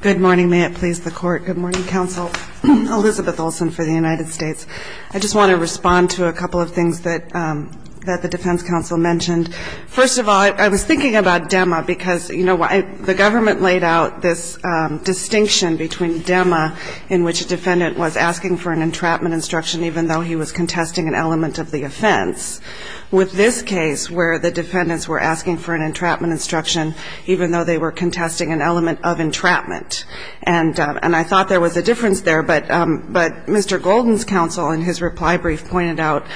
Good morning. May it please the Court. Good morning, Counsel. Elizabeth Olson for the United States. I just want to respond to a couple of things that the defense counsel mentioned. First of all, I was thinking about DEMA because, you know, the government laid out this distinction between DEMA, in which a defendant was asking for an entrapment instruction even though he was contesting an element of the offense, with this case where the defendants were asking for an entrapment instruction even though they were contesting an element of entrapment. And I thought there was a difference there, but Mr. Golden's counsel, in his reply brief, pointed out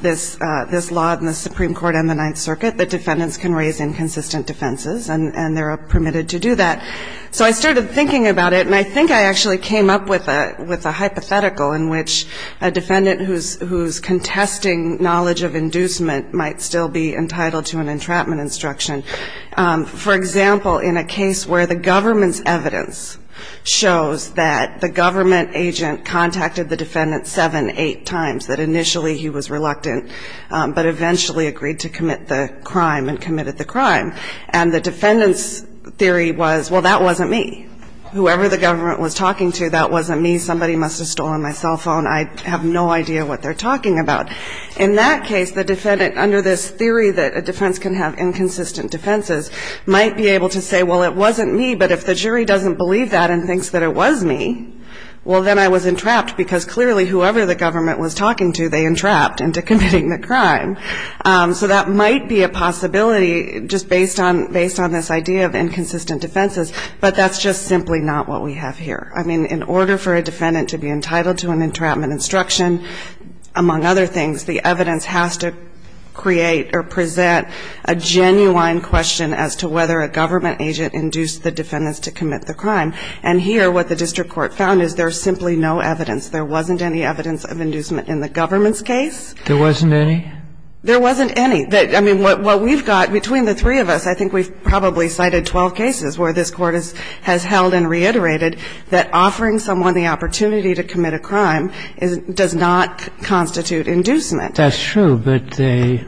this law in the Supreme Court and the Ninth Circuit that defendants can raise inconsistent defenses, and they're permitted to do that. So I started thinking about it, and I think I actually came up with a hypothetical in which a defendant whose contesting knowledge of inducement might still be entitled to an entrapment instruction for example, in a case where the government's evidence shows that the government agent contacted the defendant seven, eight times, that initially he was reluctant, but eventually agreed to commit the crime and committed the crime. And the defendant's theory was, well, that wasn't me. Whoever the government was talking to, that wasn't me. Somebody must have stolen my cell phone. I have no idea what they're talking about. But in that case, the defendant, under this theory that a defense can have inconsistent defenses, might be able to say, well, it wasn't me, but if the jury doesn't believe that and thinks that it was me, well, then I was entrapped because clearly whoever the government was talking to, they entrapped into committing the crime. So that might be a possibility just based on this idea of inconsistent defenses, but that's just simply not what we have here. I mean, in order for a defendant to be entitled to an entrapment instruction, among other things, the evidence has to create or present a genuine question as to whether a government agent induced the defendants to commit the crime. And here, what the district court found is there's simply no evidence. There wasn't any evidence of inducement in the government's case. There wasn't any? There wasn't any. I mean, what we've got, between the three of us, I think we've probably cited 12 cases where this Court has held and reiterated that offering someone the opportunity to commit a crime does not constitute inducement. That's true, but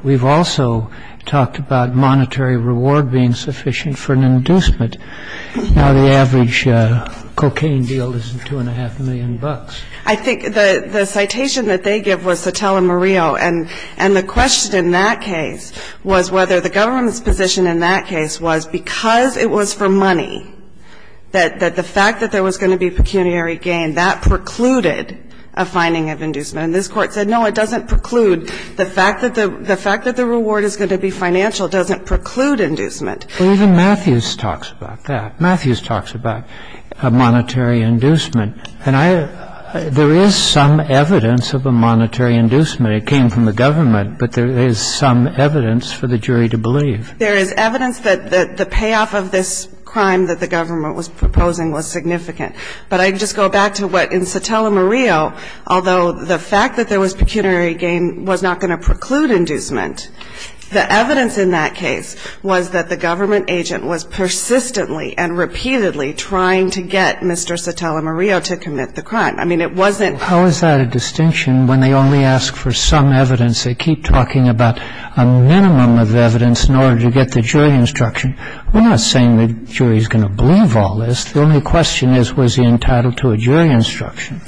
we've also talked about monetary reward being sufficient for an inducement. Now, the average cocaine deal is $2.5 million. I think the citation that they give was Sotelo Murillo, and the question in that case was whether the government's position in that case was because it was for money, that the fact that there was going to be pecuniary gain, that precluded a finding of inducement. And this Court said, no, it doesn't preclude. The fact that the reward is going to be financial doesn't preclude inducement. Well, even Matthews talks about that. Matthews talks about a monetary inducement. And there is some evidence of a monetary inducement. It came from the government. But there is some evidence for the jury to believe. There is evidence that the payoff of this crime that the government was proposing was significant. But I'd just go back to what in Sotelo Murillo, although the fact that there was pecuniary gain was not going to preclude inducement, the evidence in that case was that the government agent was persistently and repeatedly trying to get Mr. Sotelo Murillo to commit the crime. I mean, it wasn't. How is that a distinction when they only ask for some evidence? They keep talking about a minimum of evidence in order to get the jury instruction. We're not saying the jury is going to believe all this. The only question is, was he entitled to a jury instruction?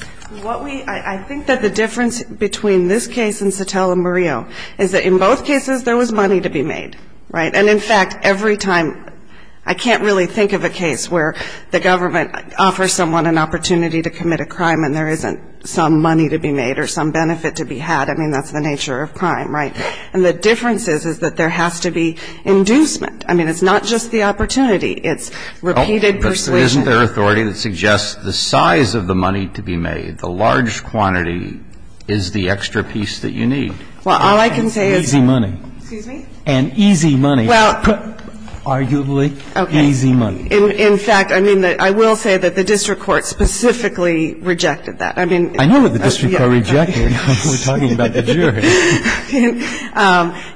What we – I think that the difference between this case and Sotelo Murillo is that in both cases there was money to be made, right? And, in fact, every time – I can't really think of a case where the government offers someone an opportunity to commit a crime and there isn't some money to be made or some benefit to be had. I mean, that's the nature of crime, right? And the difference is, is that there has to be inducement. I mean, it's not just the opportunity. It's repeated persuasion. But isn't there authority that suggests the size of the money to be made, the large quantity, is the extra piece that you need? Well, all I can say is that – And easy money. Excuse me? And easy money. Well – Arguably easy money. In fact, I mean, I will say that the district court specifically rejected that. I mean – I know what the district court rejected when we're talking about the jury.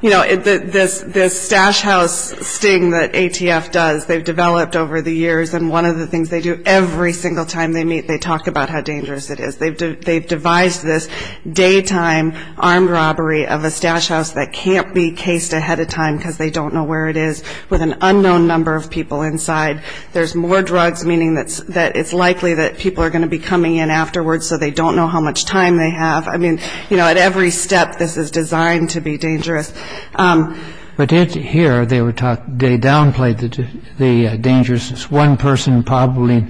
You know, this stash house sting that ATF does, they've developed over the years. And one of the things they do every single time they meet, they talk about how dangerous it is. They've devised this daytime armed robbery of a stash house that can't be cased ahead of time because they don't know where it is with an unknown number of people inside. There's more drugs, meaning that it's likely that people are going to be coming in afterwards, so they don't know how much time they have. I mean, you know, at every step, this is designed to be dangerous. But here, they downplayed the dangers. It's one person probably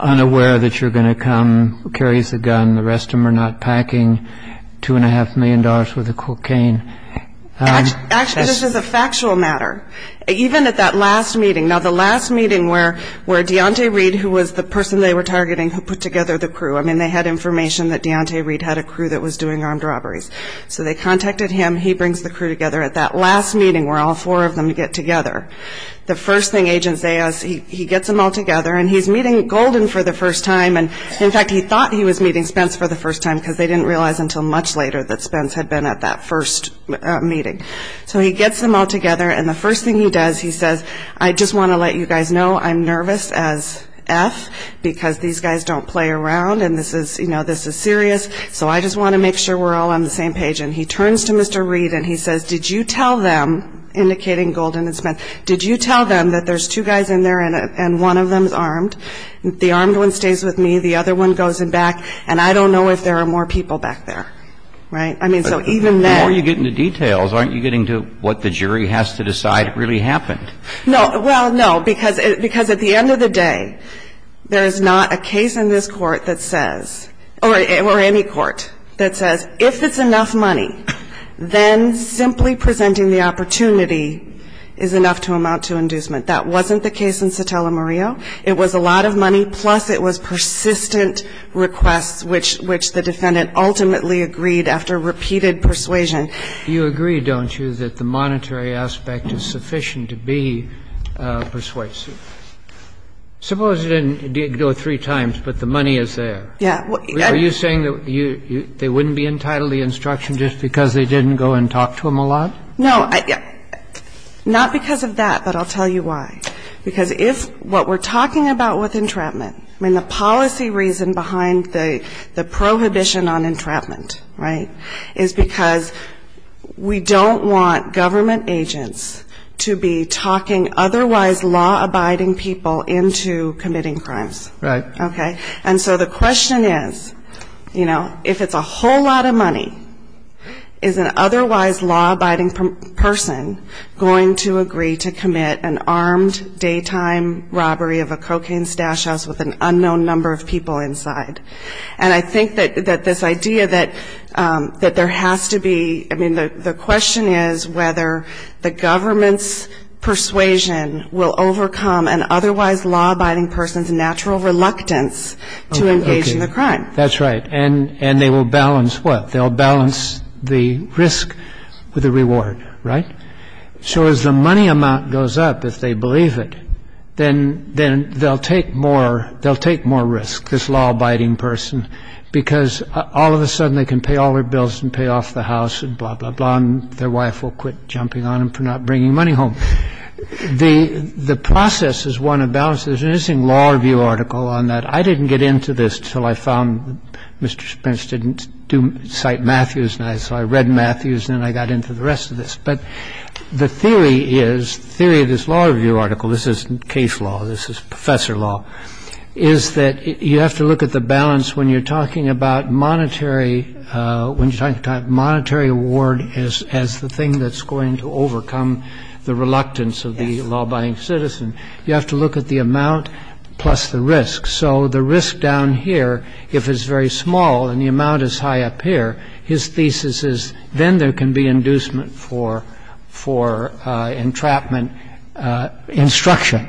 unaware that you're going to come, carries a gun. The rest of them are not packing $2.5 million worth of cocaine. Actually, this is a factual matter. Even at that last meeting, now, the last meeting where Deontay Reed, who was the person they were targeting, who put together the crew, I mean, they had information that Deontay Reed had a crew that was doing armed robberies. So they contacted him. He brings the crew together at that last meeting where all four of them get together. The first thing agents say is he gets them all together, and he's meeting Golden for the first time, and in fact, he thought he was meeting Spence for the first time because they didn't realize until much later that Spence had been at that first meeting. So he gets them all together, and the first thing he does, he says, I just want to let you guys know I'm nervous as F because these guys don't play around, and this is serious, so I just want to make sure we're all on the same page. And he turns to Mr. Reed, and he says, did you tell them, indicating Golden and Spence, did you tell them that there's two guys in there and one of them is armed? The armed one stays with me. The other one goes in back, and I don't know if there are more people back there. Right? I mean, so even then The more you get into details, aren't you getting to what the jury has to decide really happened? No. Well, no, because at the end of the day, there is not a case in this Court that says, or any Court that says, if it's enough money, then simply presenting the opportunity is enough to amount to inducement. That wasn't the case in Sotelo-Murillo. It was a lot of money, plus it was persistent requests, which the defendant ultimately agreed after repeated persuasion. You agree, don't you, that the monetary aspect is sufficient to be persuasive? Suppose it didn't go three times, but the money is there. Yeah. Are you saying that they wouldn't be entitled to the instruction just because they didn't go and talk to him a lot? No. Not because of that, but I'll tell you why. Because if what we're talking about with entrapment, I mean, the policy reason behind the prohibition on entrapment, right, is because we don't want government agents to be talking otherwise law-abiding people into committing crimes. Right. Okay? And so the question is, you know, if it's a whole lot of money, is an otherwise law-abiding person going to agree to commit an armed daytime robbery of a cocaine stash house with an unknown number of people inside? And I think that this idea that there has to be, I mean, the question is whether the government's persuasion will overcome an otherwise law-abiding person's natural reluctance to engage in the crime. That's right. And they will balance what? They'll balance the risk with the reward, right? So as the money amount goes up, if they believe it, then they'll take more risk, this law-abiding person, because all of a sudden they can pay all their bills and pay off the house and blah, blah, blah, and their wife will quit jumping on them for not bringing money home. The process is one of balance. There's an interesting law review article on that. I didn't get into this until I found Mr. Spence didn't cite Matthews. And so I read Matthews, and then I got into the rest of this. But the theory is, the theory of this law review article, this isn't case law, this is professor law, is that you have to look at the balance when you're talking about monetary, when you're talking about monetary reward as the thing that's going to overcome the reluctance of the law-abiding citizen. You have to look at the amount plus the risk. So the risk down here, if it's very small and the amount is high up here, his thesis is then there can be inducement for entrapment instruction.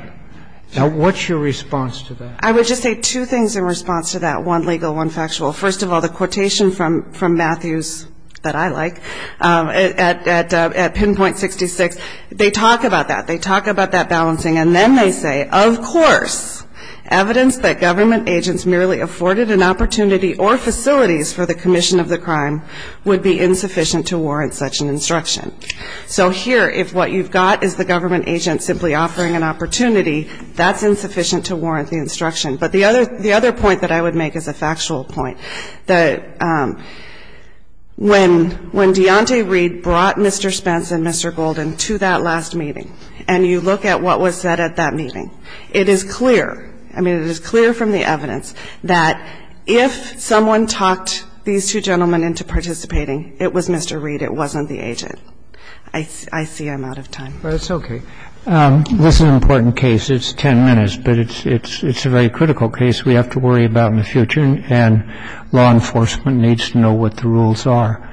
Now, what's your response to that? I would just say two things in response to that, one legal, one factual. First of all, the quotation from Matthews that I like at Pinpoint 66, they talk about that. They talk about that balancing. And then they say, of course, evidence that government agents merely afforded an opportunity or facilities for the commission of the crime would be insufficient to warrant such an instruction. So here, if what you've got is the government agent simply offering an opportunity, that's insufficient to warrant the instruction. But the other point that I would make is a factual point, that when Deontay Reid brought Mr. Spence and Mr. Golden to that last meeting, and you look at what was said at that meeting, it is clear, I mean, it is clear from the record, that if someone talked these two gentlemen into participating, it was Mr. Reid. It wasn't the agent. I see I'm out of time. But it's okay. This is an important case. It's ten minutes, but it's a very critical case we have to worry about in the future, and law enforcement needs to know what the rules are.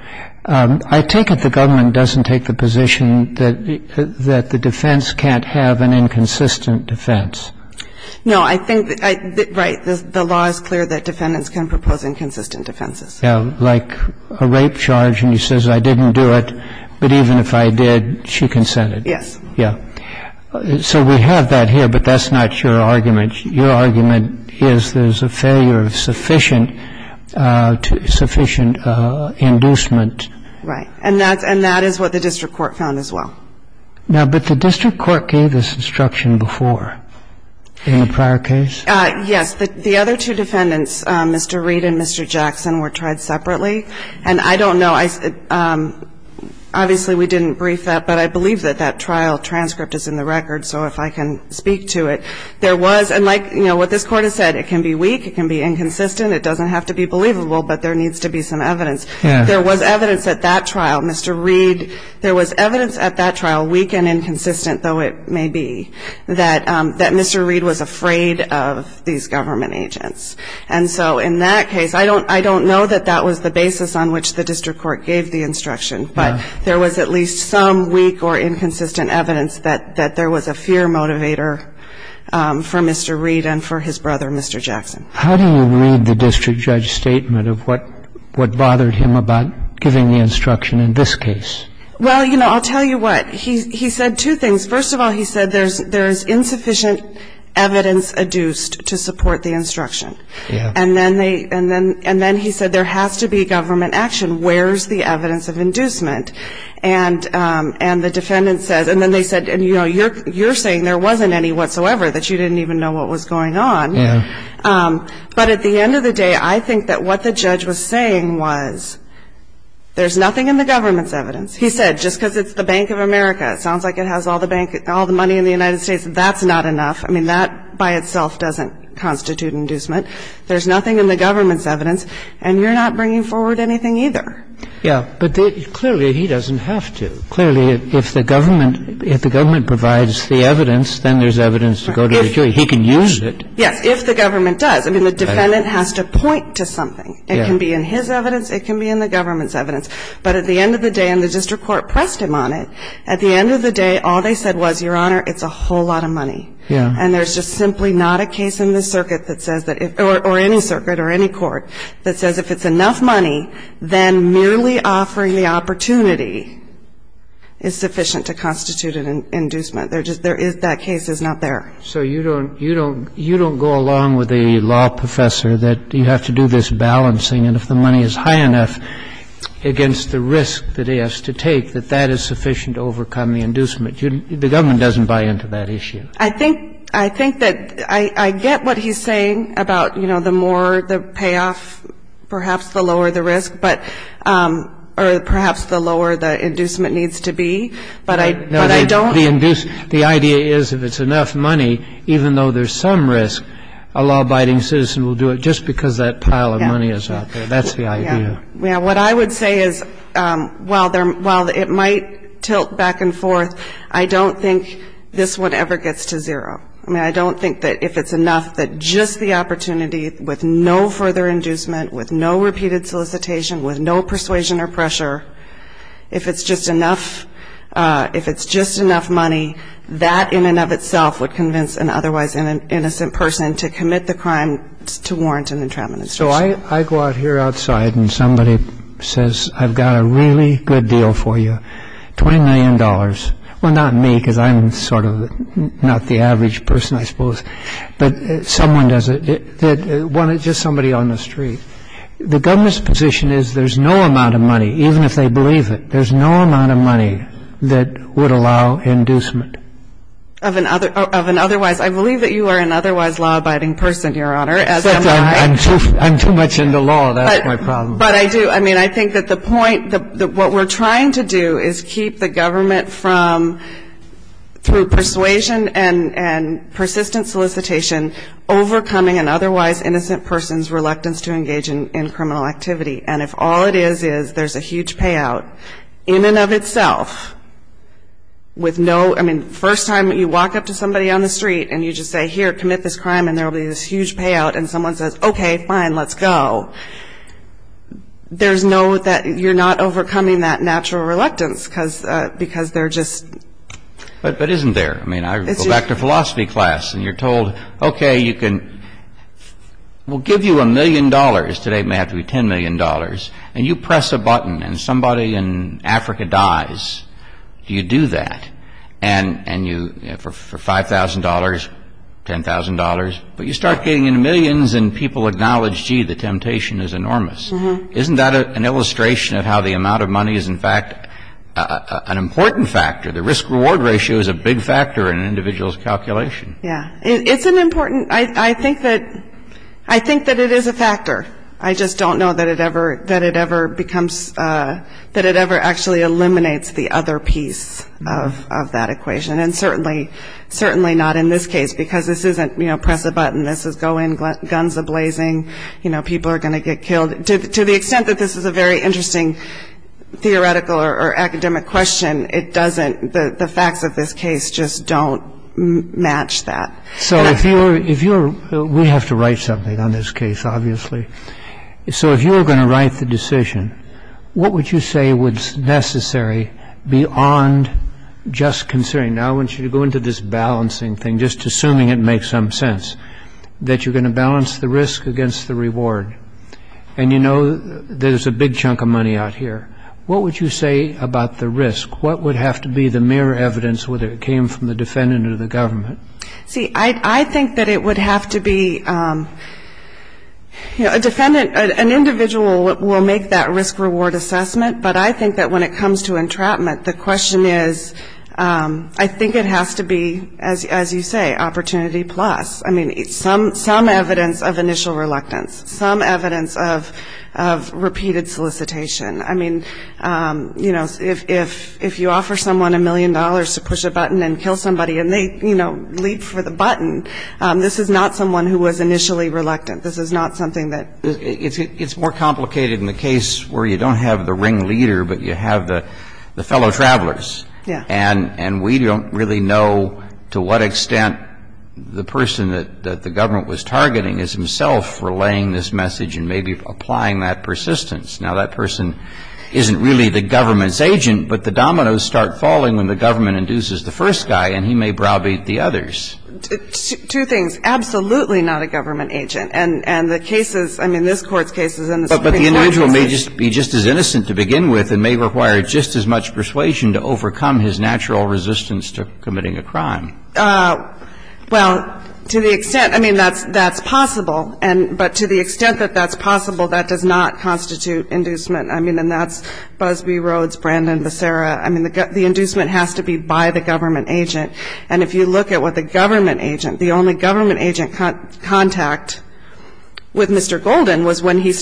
I take it the government doesn't take the position that the defense can't have an inconsistent defense. No, I think, right, the law is clear that defendants can propose inconsistent defenses. Yeah, like a rape charge, and he says I didn't do it, but even if I did, she consented. Yes. Yeah. So we have that here, but that's not your argument. Your argument is there's a failure of sufficient inducement. Right. And that is what the district court found as well. Now, but the district court gave this instruction before in the prior case. Yes. The other two defendants, Mr. Reid and Mr. Jackson, were tried separately. And I don't know. Obviously, we didn't brief that, but I believe that that trial transcript is in the record, so if I can speak to it. There was, and like, you know, what this Court has said, it can be weak, it can be inconsistent, it doesn't have to be believable, but there needs to be some evidence. There was evidence at that trial. Mr. Reid, there was evidence at that trial, weak and inconsistent, though it may be, that Mr. Reid was afraid of these government agents. And so in that case, I don't know that that was the basis on which the district court gave the instruction, but there was at least some weak or inconsistent evidence that there was a fear motivator for Mr. Reid and for his brother, Mr. Jackson. How do you read the district judge's statement of what bothered him about giving the instruction in this case? Well, you know, I'll tell you what. He said two things. First of all, he said there's insufficient evidence adduced to support the instruction. Yeah. And then they, and then he said there has to be government action. Where's the evidence of inducement? And the defendant says, and then they said, you know, you're saying there wasn't any whatsoever, that you didn't even know what was going on. Yeah. But at the end of the day, I think that what the judge was saying was there's nothing in the government's evidence. He said, just because it's the Bank of America, it sounds like it has all the money in the United States, that's not enough. I mean, that by itself doesn't constitute inducement. There's nothing in the government's evidence, and you're not bringing forward anything either. Yeah. But clearly, he doesn't have to. Clearly, if the government provides the evidence, then there's evidence to go to the jury. He can use it. Yes, if the government does. I mean, the defendant has to point to something. Yeah. It can be in his evidence. It can be in the government's evidence. But at the end of the day, and the district court pressed him on it, at the end of the day, all they said was, Your Honor, it's a whole lot of money. Yeah. And there's just simply not a case in the circuit that says that, or any circuit or any court, that says if it's enough money, then merely offering the opportunity is sufficient to constitute an inducement. They're just, there is, that case is not there. So you don't, you don't, you don't go along with the law professor that you have to do this balancing, and if the money is high enough against the risk that he has to take, that that is sufficient to overcome the inducement. The government doesn't buy into that issue. I think, I think that I, I get what he's saying about, you know, the more the payoff, perhaps the lower the risk, but, or perhaps the lower the inducement needs to be. But I, but I don't. The induce, the idea is if it's enough money, even though there's some risk, a law-abiding citizen will do it just because that pile of money is out there. That's the idea. Yeah. What I would say is, while there, while it might tilt back and forth, I don't think this one ever gets to zero. I mean, I don't think that if it's enough that just the opportunity with no further inducement, with no repeated solicitation, with no persuasion or pressure, if it's just enough, if it's just enough money, that in and of itself would convince an otherwise innocent person to commit the crime to warrant an intradministration. So I, I go out here outside and somebody says, I've got a really good deal for you, $20 million. Well, not me, because I'm sort of not the average person, I suppose, but someone does it, one, just somebody on the street. The government's position is there's no amount of money, even if they believe it. There's no amount of money that would allow inducement. Of an otherwise. I believe that you are an otherwise law-abiding person, Your Honor. Except I'm too much into law. That's my problem. But I do. I mean, I think that the point, what we're trying to do is keep the government from, through persuasion and persistent solicitation, overcoming an otherwise innocent person's reluctance to engage in criminal activity. And if all it is, is there's a huge payout, in and of itself, with no, I mean, first time you walk up to somebody on the street and you just say, here, commit this crime, and there will be this huge payout, and someone says, okay, fine, let's go. There's no, that you're not overcoming that natural reluctance, because, because they're just. But, but isn't there? I mean, I go back to philosophy class, and you're told, okay, you can, we'll give you a million dollars. Today, it may have to be $10 million. And you press a button, and somebody in Africa dies. You do that. And you, for $5,000, $10,000. But you start getting into millions, and people acknowledge, gee, the temptation is enormous. Isn't that an illustration of how the amount of money is, in fact, an important factor? The risk-reward ratio is a big factor in an individual's calculation. Yeah. It's an important, I think that, I think that it is a factor. I just don't know that it ever, that it ever becomes, that it ever actually eliminates the other piece of, of that equation. And certainly, certainly not in this case, because this isn't, you know, press a button. This is go in, guns a-blazing. You know, people are going to get killed. To the extent that this is a very interesting theoretical or academic question, it doesn't, the facts of this case just don't match that. So if you were, if you were, we have to write something on this case, obviously. So if you were going to write the decision, what would you say was necessary beyond just considering. Now I want you to go into this balancing thing, just assuming it makes some sense. That you're going to balance the risk against the reward. And you know, there's a big chunk of money out here. What would you say about the risk? What would have to be the mere evidence, whether it came from the defendant or the government? See, I think that it would have to be, you know, a defendant, an individual will make that risk-reward assessment. But I think that when it comes to entrapment, the question is, I think it has to be, as you say, opportunity plus. I mean, some, some evidence of initial reluctance. Some evidence of, of repeated solicitation. I mean, you know, if, if you offer someone a million dollars to push a button and kill somebody and they, you know, leap for the button, this is not someone who was initially reluctant. This is not something that. It's more complicated in the case where you don't have the ringleader, but you have the fellow travelers. Yeah. And we don't really know to what extent the person that the government was targeting is himself relaying this message and maybe applying that persistence. Now, that person isn't really the government's agent, but the dominoes start falling when the government induces the first guy and he may browbeat the others. Two things. Absolutely not a government agent. And, and the cases, I mean, this Court's cases and the Supreme Court's cases. But the individual may just be just as innocent to begin with and may require just as much persuasion to overcome his natural resistance to committing a crime. Well, to the extent, I mean, that's, that's possible. And, but to the extent that that's possible, that does not constitute inducement. I mean, and that's Busby, Rhodes, Brandon, Visera. I mean, the inducement has to be by the government agent. And if you look at what the government agent, the only government agent contact with Mr. Golden was when he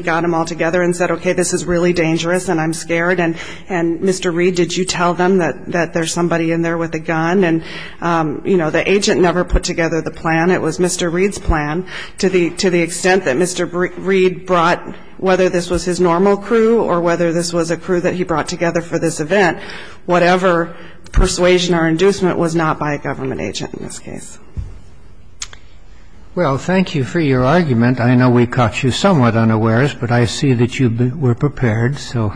got them all together and said, okay, this is really dangerous and I'm scared. And Mr. Reed, did you tell them that there's somebody in there with a gun? And, you know, the agent never put together the plan. It was Mr. Reed's plan to the, to the extent that Mr. Reed brought, whether this was his normal crew or whether this was a crew that he brought together for this event, whatever persuasion or inducement was not by a government agent in this case. Well, thank you for your argument. I know we caught you somewhat unawares, but I see that you were prepared, so,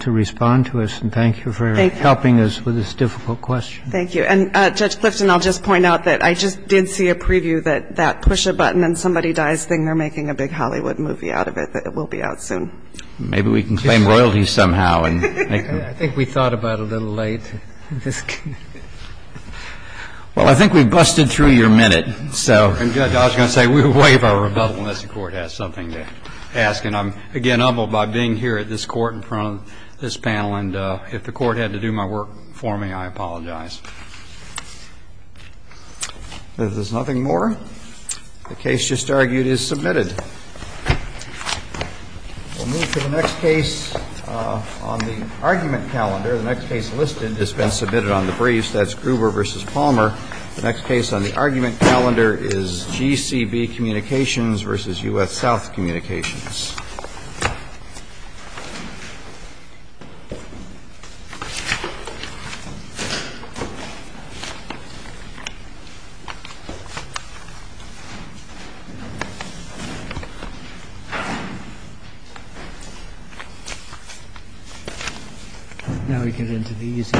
to respond to us. And thank you for helping us with this difficult question. Thank you. And Judge Clifton, I'll just point out that I just did see a preview that that push-a-button-and-somebody-dies thing, they're making a big Hollywood movie out of it. It will be out soon. Maybe we can claim royalty somehow. I think we thought about it a little late. Well, I think we've busted through your minute, so. I was going to say, we'll waive our rebuttal unless the Court has something to ask. And I'm, again, humbled by being here at this Court in front of this panel. And if the Court had to do my work for me, I apologize. If there's nothing more, the case just argued is submitted. We'll move to the next case on the argument calendar. The next case listed has been submitted on the briefs. That's Gruber v. Palmer. The next case on the argument calendar is GCB Communications v. U.S. South Communications. Now we get into the easy part.